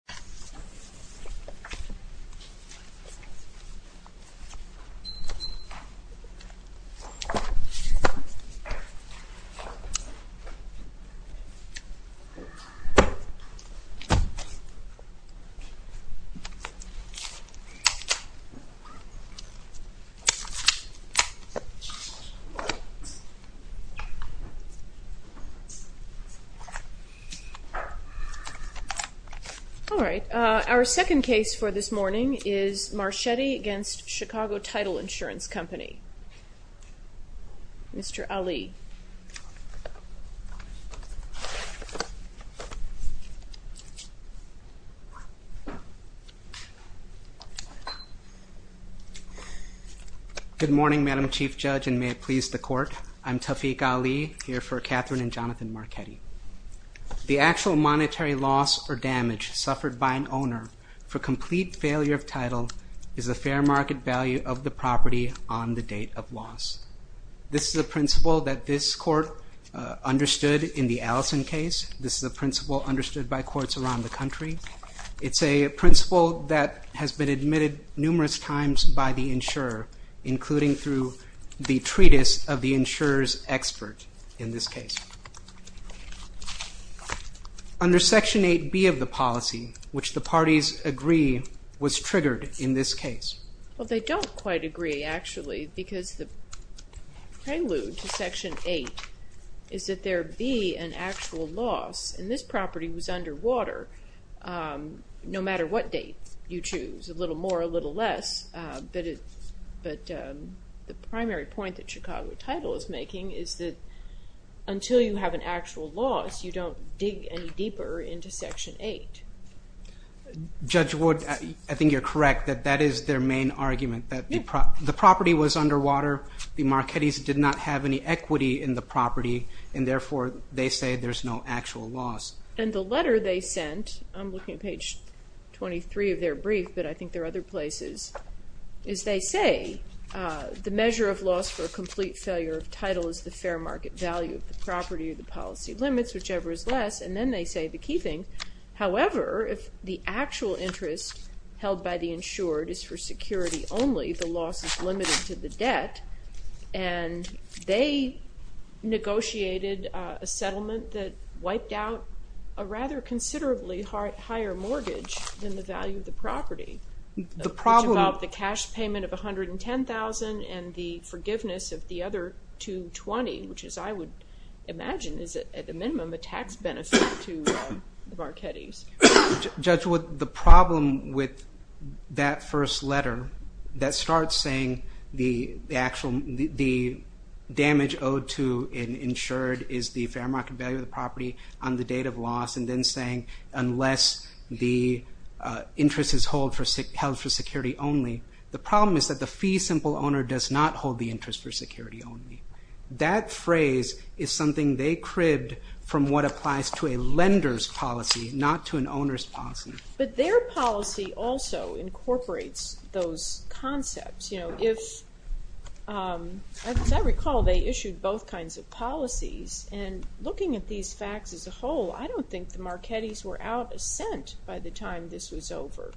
Title represents the training, impartial, and cohesive issues in society and community. All right, our second case for this morning is Marchetti against Chicago Title Insurance Company. Mr. Ali. Good morning, Madam Chief Judge, and may it please the court. I'm Tawfiq Ali, here for Catherine and Jonathan Marchetti. The actual monetary loss or damage suffered by an owner for complete failure of title is a fair market value of the property on the date of loss. This is a principle that this court understood in the Allison case. This is a principle understood by courts around the country. It's a principle that has been admitted numerous times by the insurer, including through the Under Section 8B of the policy, which the parties agree was triggered in this case? Well, they don't quite agree, actually, because the prelude to Section 8 is that there be an actual loss, and this property was underwater no matter what date you choose, a little more, a little less, but the primary point that Chicago Title is making is that until you have an actual loss, you don't dig any deeper into Section 8. Judge Wood, I think you're correct that that is their main argument, that the property was underwater, the Marchettis did not have any equity in the property, and therefore they say there's no actual loss. And the letter they sent, I'm looking at page 23 of their brief, but I think there are other places, is they say the measure of loss for a complete failure of title is the fair market value of the property or the policy limits, whichever is less, and then they say the key thing, however, if the actual interest held by the insured is for security only, the loss is limited to the debt, and they negotiated a settlement that wiped out a rather considerably higher mortgage than the value of the property, which involved the cash payment of $110,000 and the forgiveness of the other $220,000, which as I would imagine is at a minimum a tax benefit to the Marchettis. Judge Wood, the problem with that first letter, that starts saying the damage owed to an insured is the fair market value of the property on the date of loss, and then saying unless the interest is held for security only, the problem is that the fee simple owner does not hold the interest for security only. That phrase is something they cribbed from what applies to a lender's policy, not to an owner's policy. But their policy also incorporates those concepts. As I recall, they issued both kinds of policies, and looking at these facts as a whole, I don't think the Marchettis were out of scent by the time this was over.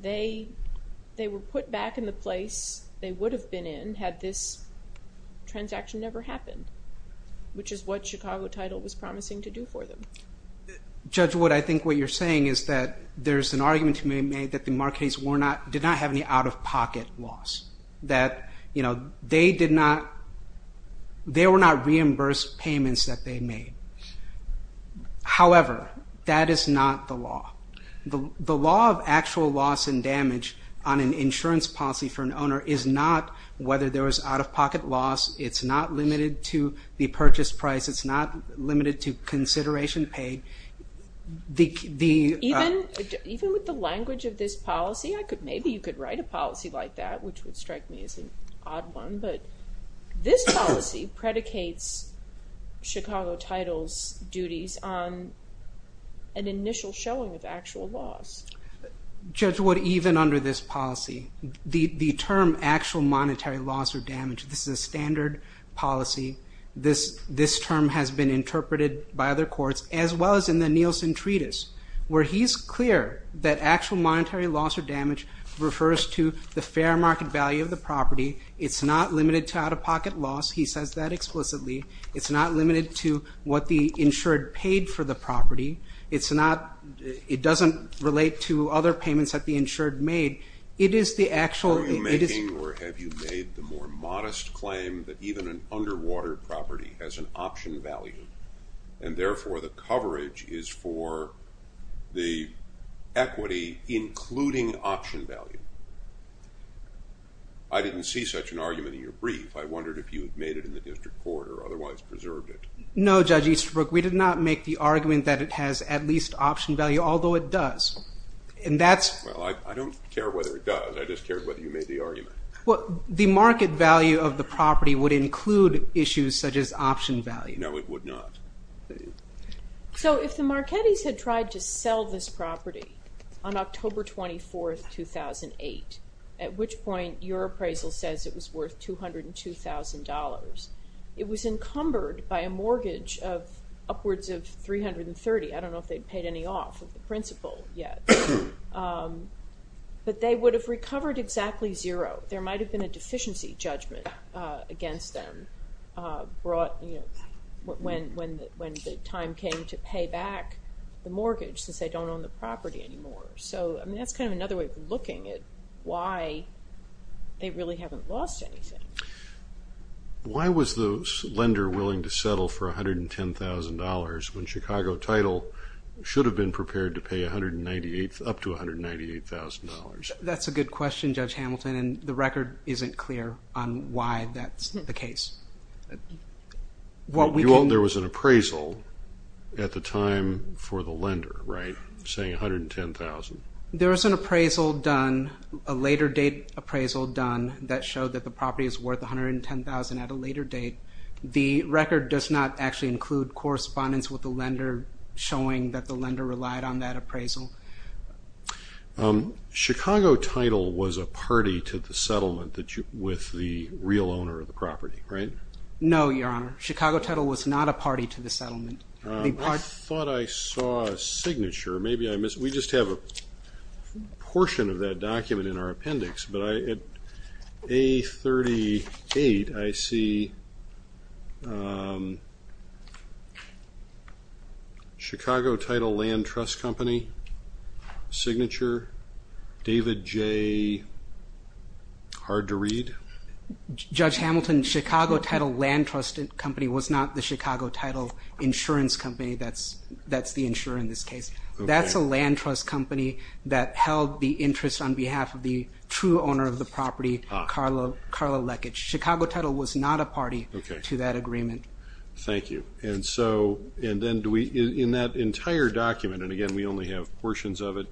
They were put back in the place they would have been in had this transaction never happened, which is what Chicago Title was promising to do for them. Judge Wood, I think what you're saying is that there's an argument to be made that the Marchettis did not have any out-of-pocket loss, that they did not, they were not reimbursed payments that they made. However, that is not the law. The law of actual loss and damage on an insurance policy for an owner is not whether there was out-of-pocket loss, it's not limited to the purchase price, it's not limited to consideration paid. Even with the language of this policy, maybe you could write a policy like that, which Chicago Title's duties on an initial showing of actual loss. Judge Wood, even under this policy, the term actual monetary loss or damage, this is a standard policy, this term has been interpreted by other courts, as well as in the Nielsen Treatise, where he's clear that actual monetary loss or damage refers to the fair market value of the property, it's not limited to out-of-pocket loss, he says that explicitly. It's not limited to what the insured paid for the property, it's not, it doesn't relate to other payments that the insured made. It is the actual- Are you making, or have you made the more modest claim that even an underwater property has an option value, and therefore the coverage is for the equity, including option value? I didn't see such an argument in your brief, I wondered if you had made it in the district court or otherwise preserved it. No Judge Easterbrook, we did not make the argument that it has at least option value, although it does. And that's- Well, I don't care whether it does, I just cared whether you made the argument. The market value of the property would include issues such as option value. No, it would not. So if the Marchettis had tried to sell this property on October 24th, 2008, at which point your appraisal says it was worth $202,000, it was encumbered by a mortgage of upwards of $330,000. I don't know if they'd paid any off of the principal yet, but they would have recovered exactly zero. There might have been a deficiency judgment against them when the time came to pay back the mortgage since they don't own the property anymore. So that's kind of another way of looking at why they really haven't lost anything. Why was the lender willing to settle for $110,000 when Chicago Title should have been prepared to pay up to $198,000? That's a good question, Judge Hamilton, and the record isn't clear on why that's the case. You own there was an appraisal at the time for the lender, right, saying $110,000? There was an appraisal done, a later date appraisal done, that showed that the property is worth $110,000 at a later date. The record does not actually include correspondence with the lender showing that the lender relied on that appraisal. Chicago Title was a party to the settlement with the real owner of the property, right? No, Your Honor. Chicago Title was not a party to the settlement. I thought I saw a signature. Maybe I missed it. We just have a portion of that document in our appendix, but at A38, I see Chicago Title Land Trust Company signature, David J., hard to read? Judge Hamilton, Chicago Title Land Trust Company was not the Chicago Title Insurance Company that's the insurer in this case. That's a land trust company that held the interest on behalf of the true owner of the property, Carlo Leckage. Chicago Title was not a party to that agreement. Thank you. And so, in that entire document, and again, we only have portions of it,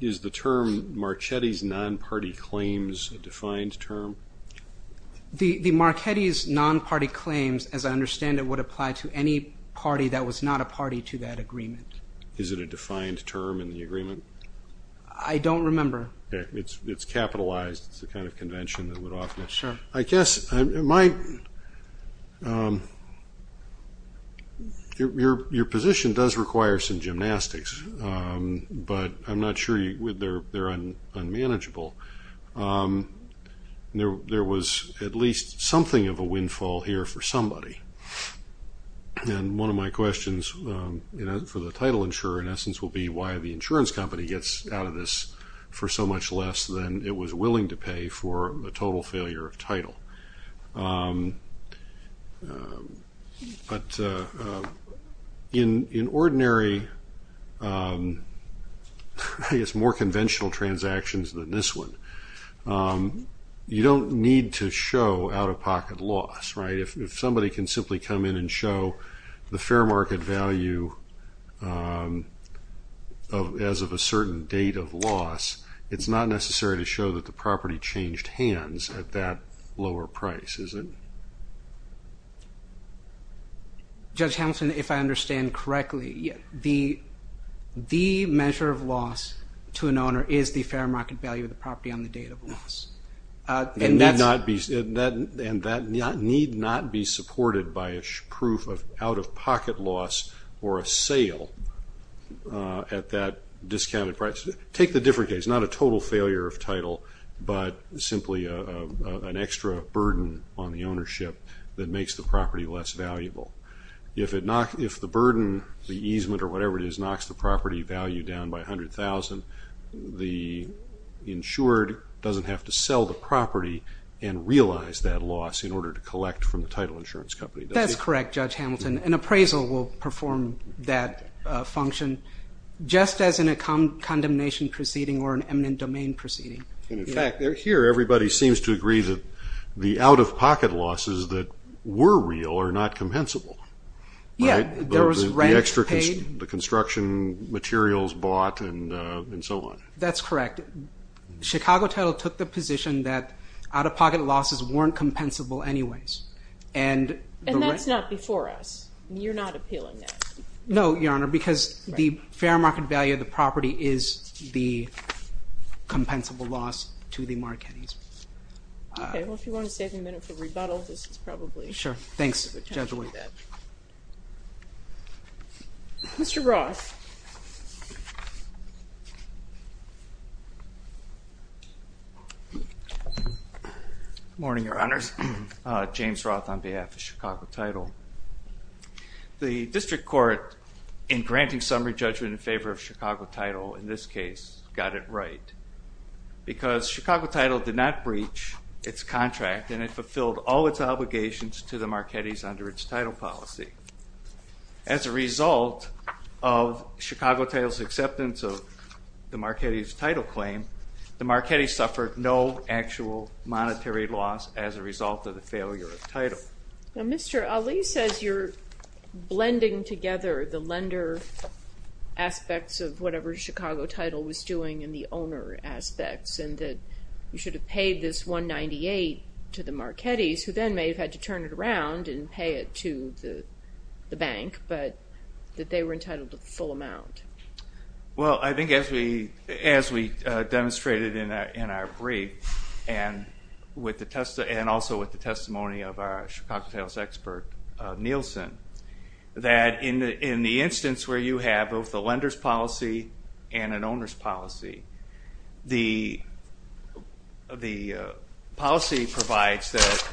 is the term Marchetti's non-party claims a defined term? The Marchetti's non-party claims, as I understand it, would apply to any party that was not a party to that agreement. Is it a defined term in the agreement? I don't remember. It's capitalized. It's the kind of convention that would often. I guess, your position does require some gymnastics, but I'm not sure they're unmanageable. There was at least something of a windfall here for somebody, and one of my questions for the title insurer, in essence, will be why the insurance company gets out of this for so much less than it was willing to pay for a total failure of title. But in ordinary, I guess, more conventional transactions than this one, you don't need to show out-of-pocket loss, right? If somebody can simply come in and show the fair market value as of a certain date of loss, it's not necessary to show that the property changed hands at that lower price, is it? Judge Hamilton, if I understand correctly, the measure of loss to an owner is the fair market value of the property on the date of loss. And that need not be supported by a proof of out-of-pocket loss or a sale at that discounted price. Take the different case, not a total failure of title, but simply an extra burden on the ownership that makes the property less valuable. If the burden, the easement or whatever it is, knocks the property value down by 100,000, the insured doesn't have to sell the property and realize that loss in order to collect from the title insurance company, does he? That's correct, Judge Hamilton. An appraisal will perform that function just as in a condemnation proceeding or an eminent domain proceeding. And in fact, here everybody seems to agree that the out-of-pocket losses that were real are not compensable. Right? Yeah, there was rent paid. The construction materials bought and so on. That's correct. Chicago title took the position that out-of-pocket losses weren't compensable anyways. And that's not before us. You're not appealing that. No, Your Honor, because the fair market value of the property is the compensable loss to the Marchettis. Okay. Well, if you want to save a minute for rebuttal, this is probably the time for that. Sure. Thanks, Judge White. Thank you. I appreciate that. Mr. Roth. Good morning, Your Honors. James Roth on behalf of Chicago Title. The district court in granting summary judgment in favor of Chicago Title in this case got it right because Chicago Title did not breach its contract and it fulfilled all its obligations to the Marchettis under its title policy. As a result of Chicago Title's acceptance of the Marchetti's title claim, the Marchetti suffered no actual monetary loss as a result of the failure of the title. Now, Mr. Ali says you're blending together the lender aspects of whatever Chicago Title was doing and the owner aspects and that you should have paid this 198 to the Marchetti's who then may have had to turn it around and pay it to the bank, but that they were entitled to the full amount. Well, I think as we demonstrated in our brief and also with the testimony of our Chicago Title's expert, Nielsen, that in the instance where you have both the lender's policy and the policy provides that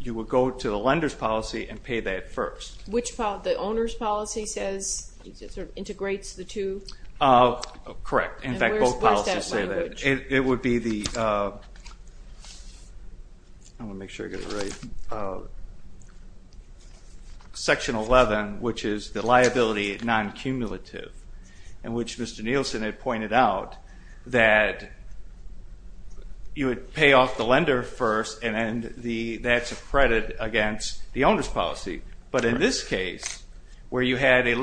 you would go to the lender's policy and pay that first. Which policy? The owner's policy says it sort of integrates the two? Correct. In fact, both policies say that. It would be the, I want to make sure I get it right, section 11, which is the liability non-cumulative, in which Mr. Nielsen had pointed out that you would pay off the lender first and that's a credit against the owner's policy. But in this case, where you had the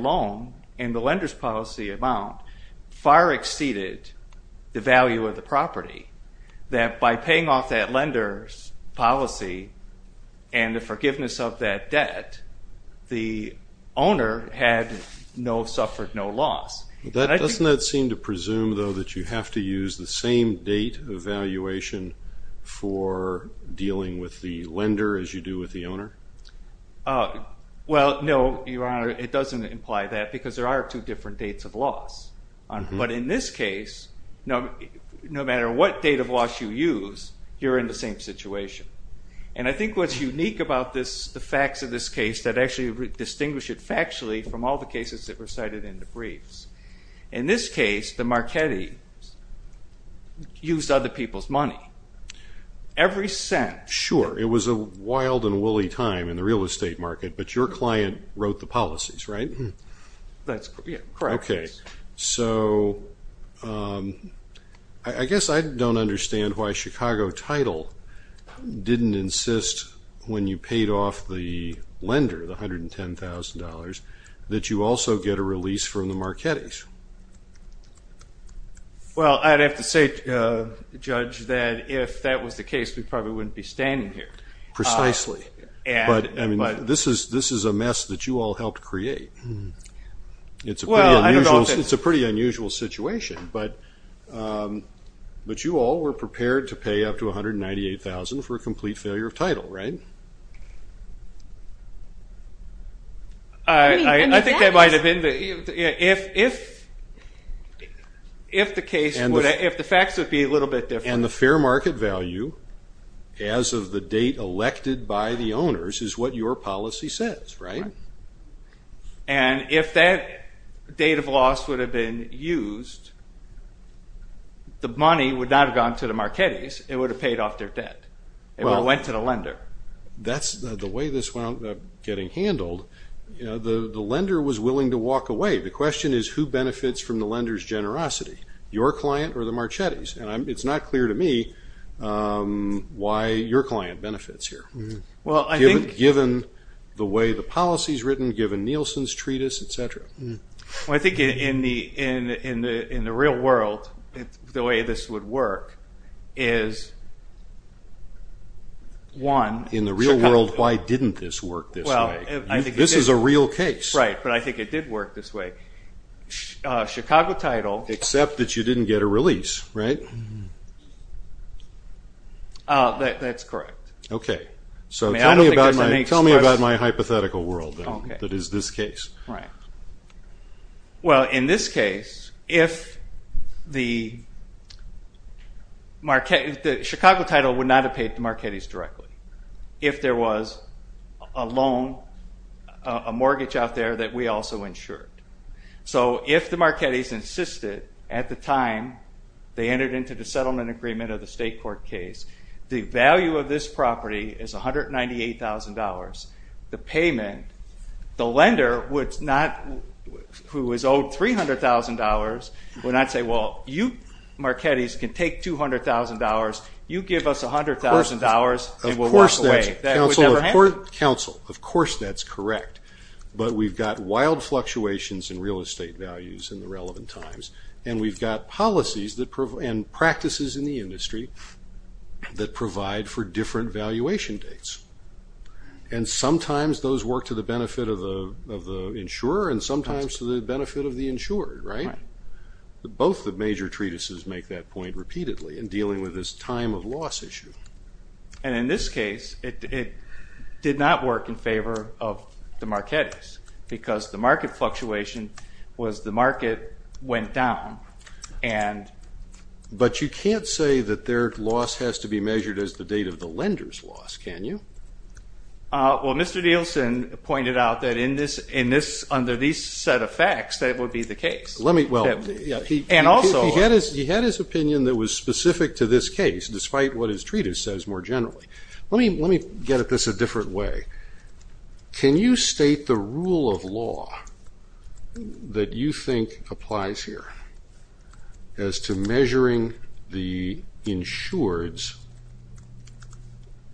loan and the lender's policy amount far exceeded the value of the property, that by paying off that lender's policy and the forgiveness of that debt, the owner had suffered no loss. Doesn't that seem to presume, though, that you have to use the same date of valuation for dealing with the lender as you do with the owner? Well, no, Your Honor, it doesn't imply that because there are two different dates of loss. But in this case, no matter what date of loss you use, you're in the same situation. And I think what's unique about the facts of this case that actually distinguish it factually from all the cases that were cited in the briefs. In this case, the Marchetti used other people's money. Every cent. Sure. It was a wild and woolly time in the real estate market, but your client wrote the policies, right? That's correct. Okay. So I guess I don't understand why Chicago Title didn't insist when you paid off the lender, the $110,000, that you also get a release from the Marchettis. Well, I'd have to say, Judge, that if that was the case, we probably wouldn't be standing here. Precisely. But, I mean, this is a mess that you all helped create. It's a pretty unusual situation. But you all were prepared to pay up to $198,000 for a complete failure of title, right? I think that might have been the – if the facts would be a little bit different. And the fair market value as of the date elected by the owners is what your policy says, right? And if that date of loss would have been used, the money would not have gone to the Marchettis. It would have paid off their debt. It went to the lender. That's the way this wound up getting handled. The lender was willing to walk away. The question is who benefits from the lender's generosity, your client or the Marchettis? And it's not clear to me why your client benefits here. Given the way the policy is written, given Nielsen's treatise, et cetera. Well, I think in the real world, the way this would work is, one – In the real world, why didn't this work this way? This is a real case. Right, but I think it did work this way. Chicago title – Except that you didn't get a release, right? That's correct. Okay. So tell me about my hypothetical world that is this case. Right. Well, in this case, if the – Chicago title would not have paid the Marchettis directly if there was a loan, a mortgage out there that we also insured. So if the Marchettis insisted at the time they entered into the settlement agreement of the state court case, the value of this property is $198,000. The payment, the lender would not – who is owed $300,000 would not say, well, you Marchettis can take $200,000. You give us $100,000 and we'll walk away. Of course that's – That would never happen. Counsel, of course that's correct. But we've got wild fluctuations in real estate values in the relevant times, and we've got policies and practices in the industry that provide for different valuation dates. And sometimes those work to the benefit of the insurer and sometimes to the benefit of the insured, right? Right. Both the major treatises make that point repeatedly in dealing with this time of loss issue. And in this case, it did not work in favor of the Marchettis because the market fluctuation was the market went down. But you can't say that their loss has to be measured as the date of the lender's loss, can you? Well, Mr. Nielsen pointed out that under these set of facts that would be the case. Well, he had his opinion that was specific to this case, despite what his treatise says more generally. Let me get at this a different way. Can you state the rule of law that you think applies here as to measuring the insured's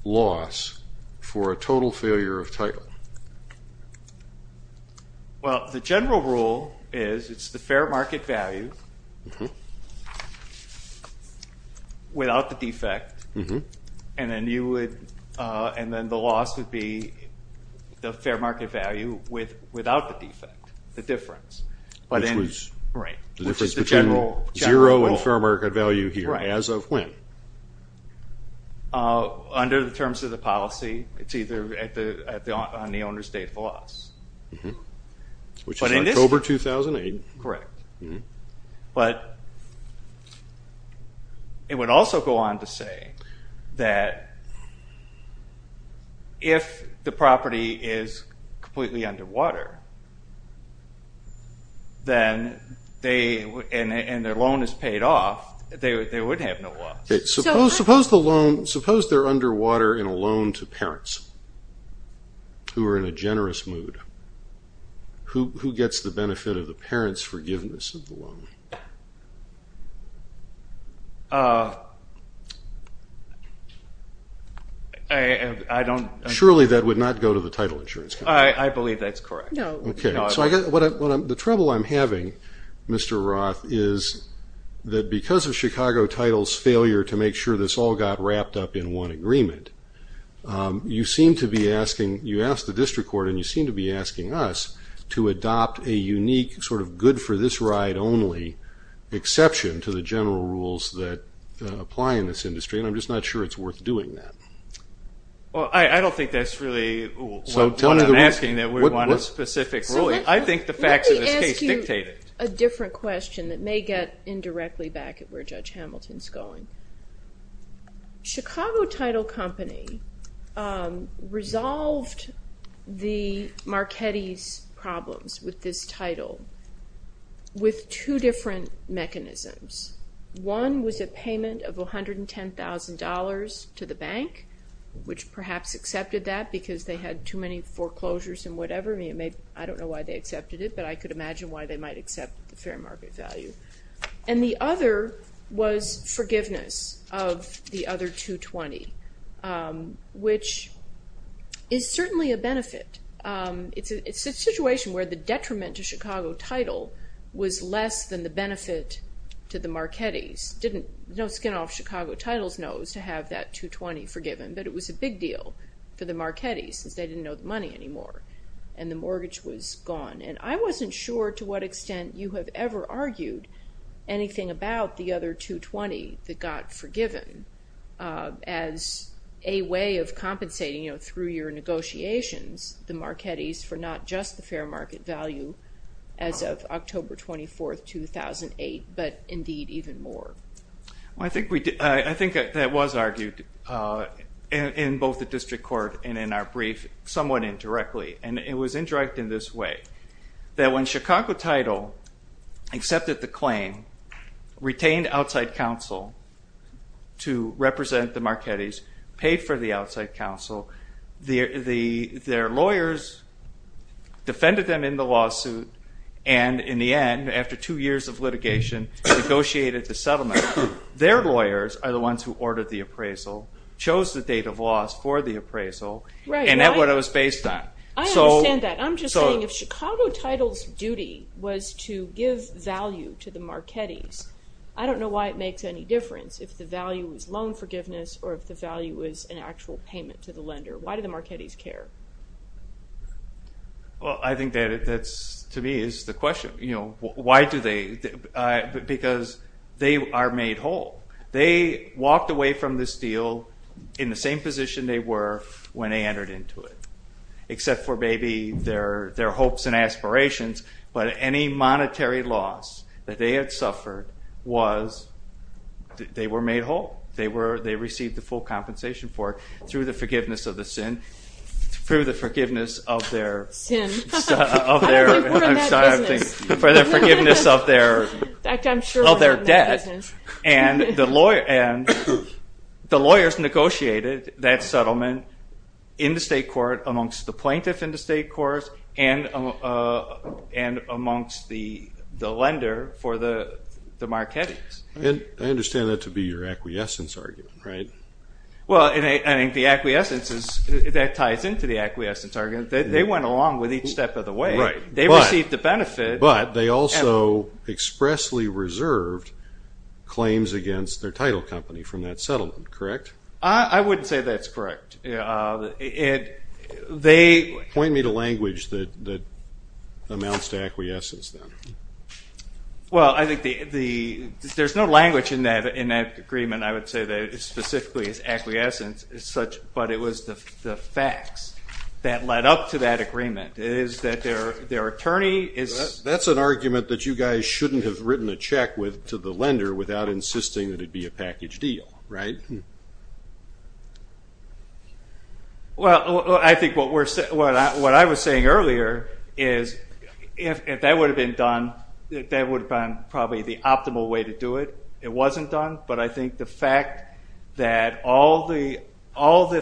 loss for a total failure of title? Well, the general rule is it's the fair market value without the defect. And then the loss would be the fair market value without the defect, the difference. Which is the general rule. Zero in fair market value here as of when? Under the terms of the policy, it's either on the owner's date of loss. Which is October 2008. Correct. But it would also go on to say that if the property is completely underwater and their loan is paid off, they would have no loss. Suppose they're underwater in a loan to parents who are in a generous mood. Who gets the benefit of the parents' forgiveness of the loan? Surely that would not go to the title insurance company. I believe that's correct. Okay. So the trouble I'm having, Mr. Roth, is that because of Chicago Title's failure to make sure this all got wrapped up in one agreement, you seem to be asking, you asked the district court and you seem to be asking us, to adopt a unique sort of good-for-this-ride-only exception to the general rules that apply in this industry. And I'm just not sure it's worth doing that. Well, I don't think that's really what I'm asking, that we want a specific ruling. I think the facts of this case dictate it. Let me ask you a different question that may get indirectly back at where Judge Hamilton's going. Chicago Title Company resolved the Marchetti's problems with this title with two different mechanisms. One was a payment of $110,000 to the bank, which perhaps accepted that because they had too many foreclosures and whatever. I don't know why they accepted it, but I could imagine why they might accept the fair market value. And the other was forgiveness of the other $220,000, which is certainly a benefit. It's a situation where the detriment to Chicago Title was less than the benefit to the Marchetti's. No skin off Chicago Title's nose to have that $220,000 forgiven, but it was a big deal for the Marchetti's, since they didn't know the money anymore and the mortgage was gone. And I wasn't sure to what extent you have ever argued anything about the other $220,000 that got forgiven as a way of compensating, you know, through your negotiations, the Marchetti's for not just the fair market value as of October 24th, 2008, but indeed even more. I think that was argued in both the district court and in our brief somewhat indirectly, and it was indirect in this way. That when Chicago Title accepted the claim, retained outside counsel to represent the Marchetti's, paid for the outside counsel, their lawyers defended them in the lawsuit, and in the end, after two years of litigation, negotiated the settlement. Their lawyers are the ones who ordered the appraisal, chose the date of loss for the appraisal, and that's what it was based on. I understand that. I'm just saying if Chicago Title's duty was to give value to the Marchetti's, I don't know why it makes any difference if the value is loan forgiveness or if the value is an actual payment to the lender. Why do the Marchetti's care? Well, I think that to me is the question. Why do they? Because they are made whole. They walked away from this deal in the same position they were when they entered into it, except for maybe their hopes and aspirations, but any monetary loss that they had suffered was they were made whole. They received the full compensation for it through the forgiveness of the sin, through the forgiveness of their debt, and the lawyers negotiated that settlement in the state court amongst the plaintiff in the state courts and amongst the lender for the Marchetti's. I understand that to be your acquiescence argument, right? Well, I think the acquiescence, that ties into the acquiescence argument. They went along with each step of the way. Right. They received the benefit. But they also expressly reserved claims against their title company from that settlement, correct? I wouldn't say that's correct. Point me to language that amounts to acquiescence then. Well, I think there's no language in that agreement, I would say, that specifically is acquiescence, but it was the facts that led up to that agreement. That's an argument that you guys shouldn't have written a check to the lender without insisting that it be a package deal, right? Well, I think what I was saying earlier is if that would have been done, that would have been probably the optimal way to do it. It wasn't done, but I think the fact that all the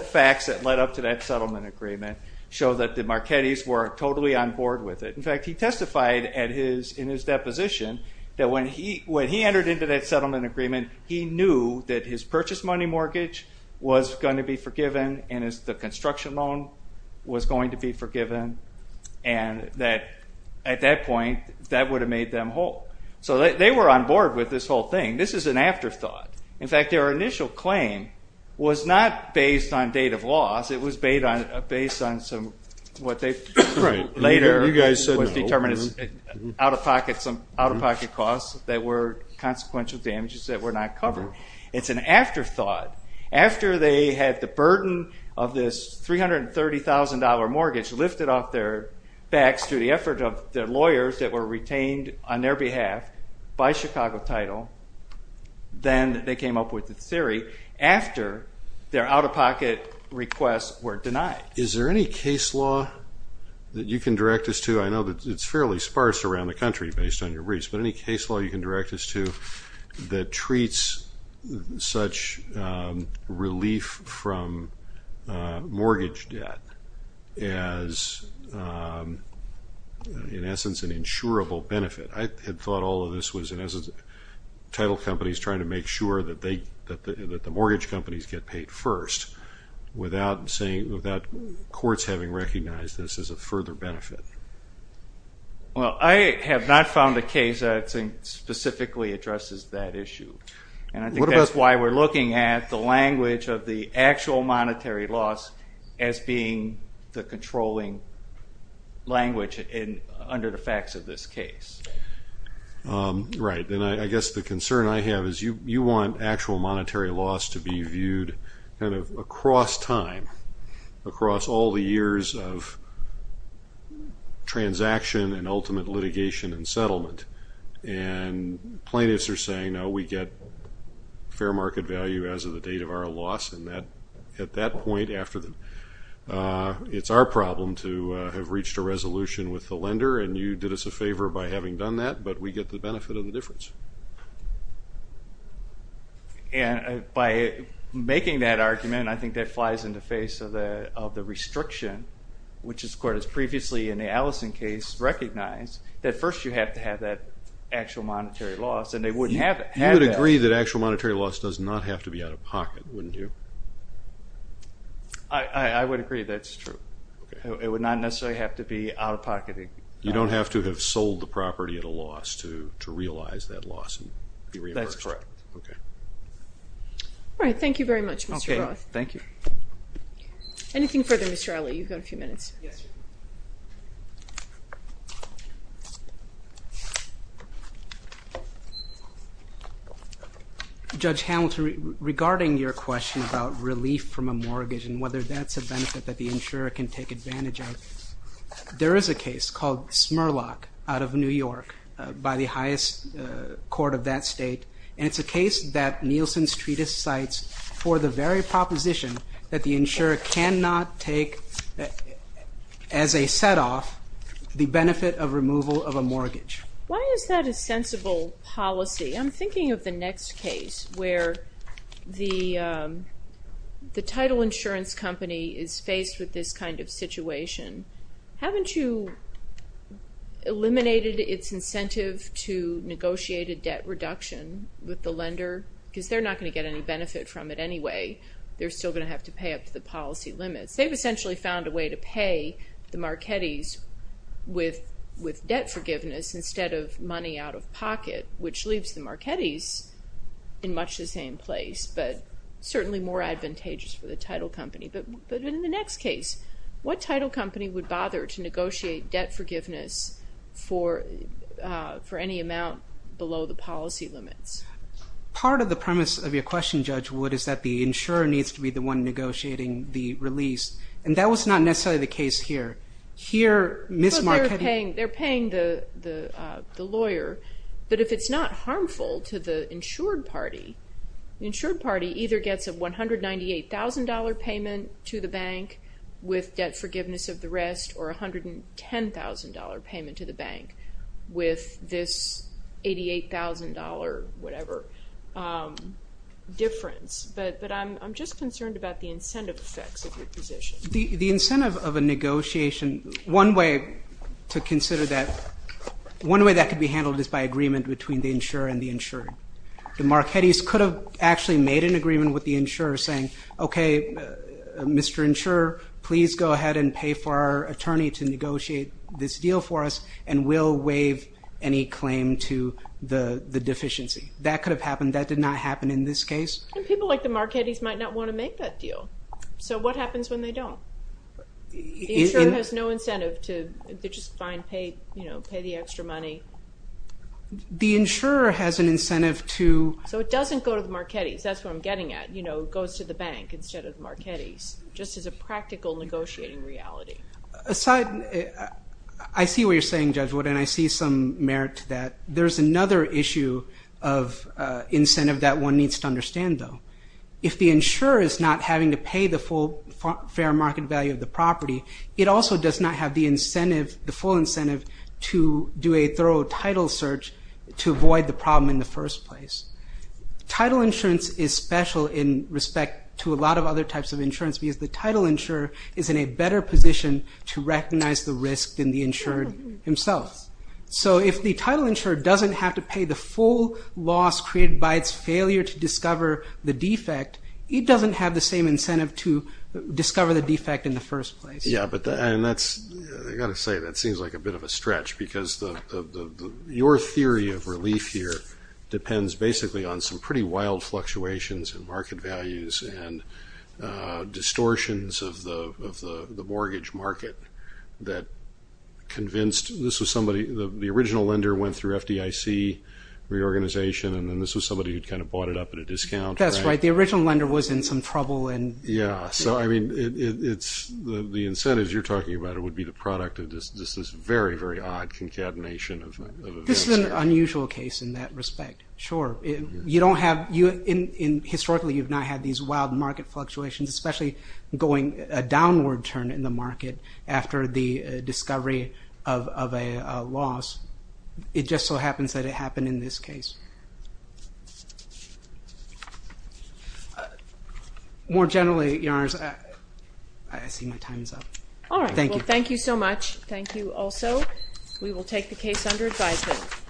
facts that led up to that settlement agreement show that the Marchettis were totally on board with it. In fact, he testified in his deposition that when he entered into that settlement agreement, he knew that his purchase money mortgage was going to be forgiven and the construction loan was going to be forgiven, and that at that point, that would have made them whole. So they were on board with this whole thing. This is an afterthought. In fact, their initial claim was not based on date of loss. It was based on what they later determined as out-of-pocket costs that were consequential damages that were not covered. It's an afterthought. After they had the burden of this $330,000 mortgage lifted off their backs through the effort of their lawyers that were retained on their behalf by Chicago Title, then they came up with the theory after their out-of-pocket requests were denied. Is there any case law that you can direct us to? I know that it's fairly sparse around the country based on your briefs, but any case law you can direct us to that treats such relief from mortgage debt as, in essence, an insurable benefit? I had thought all of this was, in essence, title companies trying to make sure that the mortgage companies get paid first without courts having recognized this as a further benefit. Well, I have not found a case that I think specifically addresses that issue, and I think that's why we're looking at the language of the actual monetary loss as being the controlling language under the facts of this case. Right, and I guess the concern I have is you want actual monetary loss to be viewed kind of across time, across all the years of transaction and ultimate litigation and settlement. And plaintiffs are saying, no, we get fair market value as of the date of our loss, and at that point, it's our problem to have reached a resolution with the lender, and you did us a favor by having done that, but we get the benefit of the difference. And by making that argument, I think that flies in the face of the restriction, which as court has previously in the Allison case recognized, that first you have to have that actual monetary loss, and they wouldn't have had that. You would agree that actual monetary loss does not have to be out of pocket, wouldn't you? I would agree that's true. It would not necessarily have to be out of pocket. You don't have to have sold the property at a loss to realize that loss. That's correct. All right. Thank you very much, Mr. Roth. Okay. Thank you. Anything further, Mr. Alley? You've got a few minutes. Yes, sir. Judge Hamilton, regarding your question about relief from a mortgage and whether that's a benefit that the insurer can take advantage of, there is a case called Smurlock out of New York by the highest court of that state, and it's a case that Nielsen's treatise cites for the very proposition that the insurer cannot take as a set-off the benefit of removal of a mortgage. Why is that a sensible policy? I'm thinking of the next case where the title insurance company is faced with this kind of situation. Haven't you eliminated its incentive to negotiate a debt reduction with the lender? Because they're not going to get any benefit from it anyway. They're still going to have to pay up to the policy limits. They've essentially found a way to pay the Marchettis with debt forgiveness instead of money out of pocket, which leaves the Marchettis in much the same place, but certainly more advantageous for the title company. But in the next case, what title company would bother to negotiate debt forgiveness for any amount below the policy limits? Part of the premise of your question, Judge Wood, is that the insurer needs to be the one negotiating the release, and that was not necessarily the case here. They're paying the lawyer, but if it's not harmful to the insured party, the insured party either gets a $198,000 payment to the bank with debt forgiveness of the rest or a $110,000 payment to the bank with this $88,000 whatever difference. But I'm just concerned about the incentive effects of your position. The incentive of a negotiation, one way to consider that, one way that could be handled is by agreement between the insurer and the insured. The Marchettis could have actually made an agreement with the insurer saying, okay, Mr. Insurer, please go ahead and pay for our attorney to negotiate this deal for us and we'll waive any claim to the deficiency. That could have happened. That did not happen in this case. And people like the Marchettis might not want to make that deal. So what happens when they don't? The insurer has no incentive to just fine pay, you know, pay the extra money. The insurer has an incentive to... So it doesn't go to the Marchettis. That's what I'm getting at, you know, goes to the bank instead of Marchettis, just as a practical negotiating reality. Aside, I see what you're saying, Judge Wood, and I see some merit to that. There's another issue of incentive that one needs to understand, though. If the insurer is not having to pay the full fair market value of the property, it also does not have the incentive, the full incentive, to do a thorough title search to avoid the problem in the first place. Title insurance is special in respect to a lot of other types of insurance because the title insurer is in a better position to recognize the risk than the insurer himself. So if the title insurer doesn't have to pay the full loss created by its failure to discover the defect, it doesn't have the same incentive to discover the defect in the first place. Yeah, but that's, I've got to say, that seems like a bit of a stretch because your theory of relief here depends basically on some pretty wild fluctuations in market values and distortions of the mortgage market that convinced, this was somebody, the original lender went through FDIC reorganization, and then this was somebody who'd kind of bought it up at a discount. That's right. The original lender was in some trouble. Yeah, so, I mean, the incentives you're talking about would be the product of this very, very odd concatenation of events here. This is an unusual case in that respect, sure. You don't have, historically you've not had these wild market fluctuations, especially going a downward turn in the market after the discovery of a loss. It just so happens that it happened in this case. More generally, Your Honors, I see my time is up. All right. Well, thank you so much. Thank you also. We will take the case under advisement.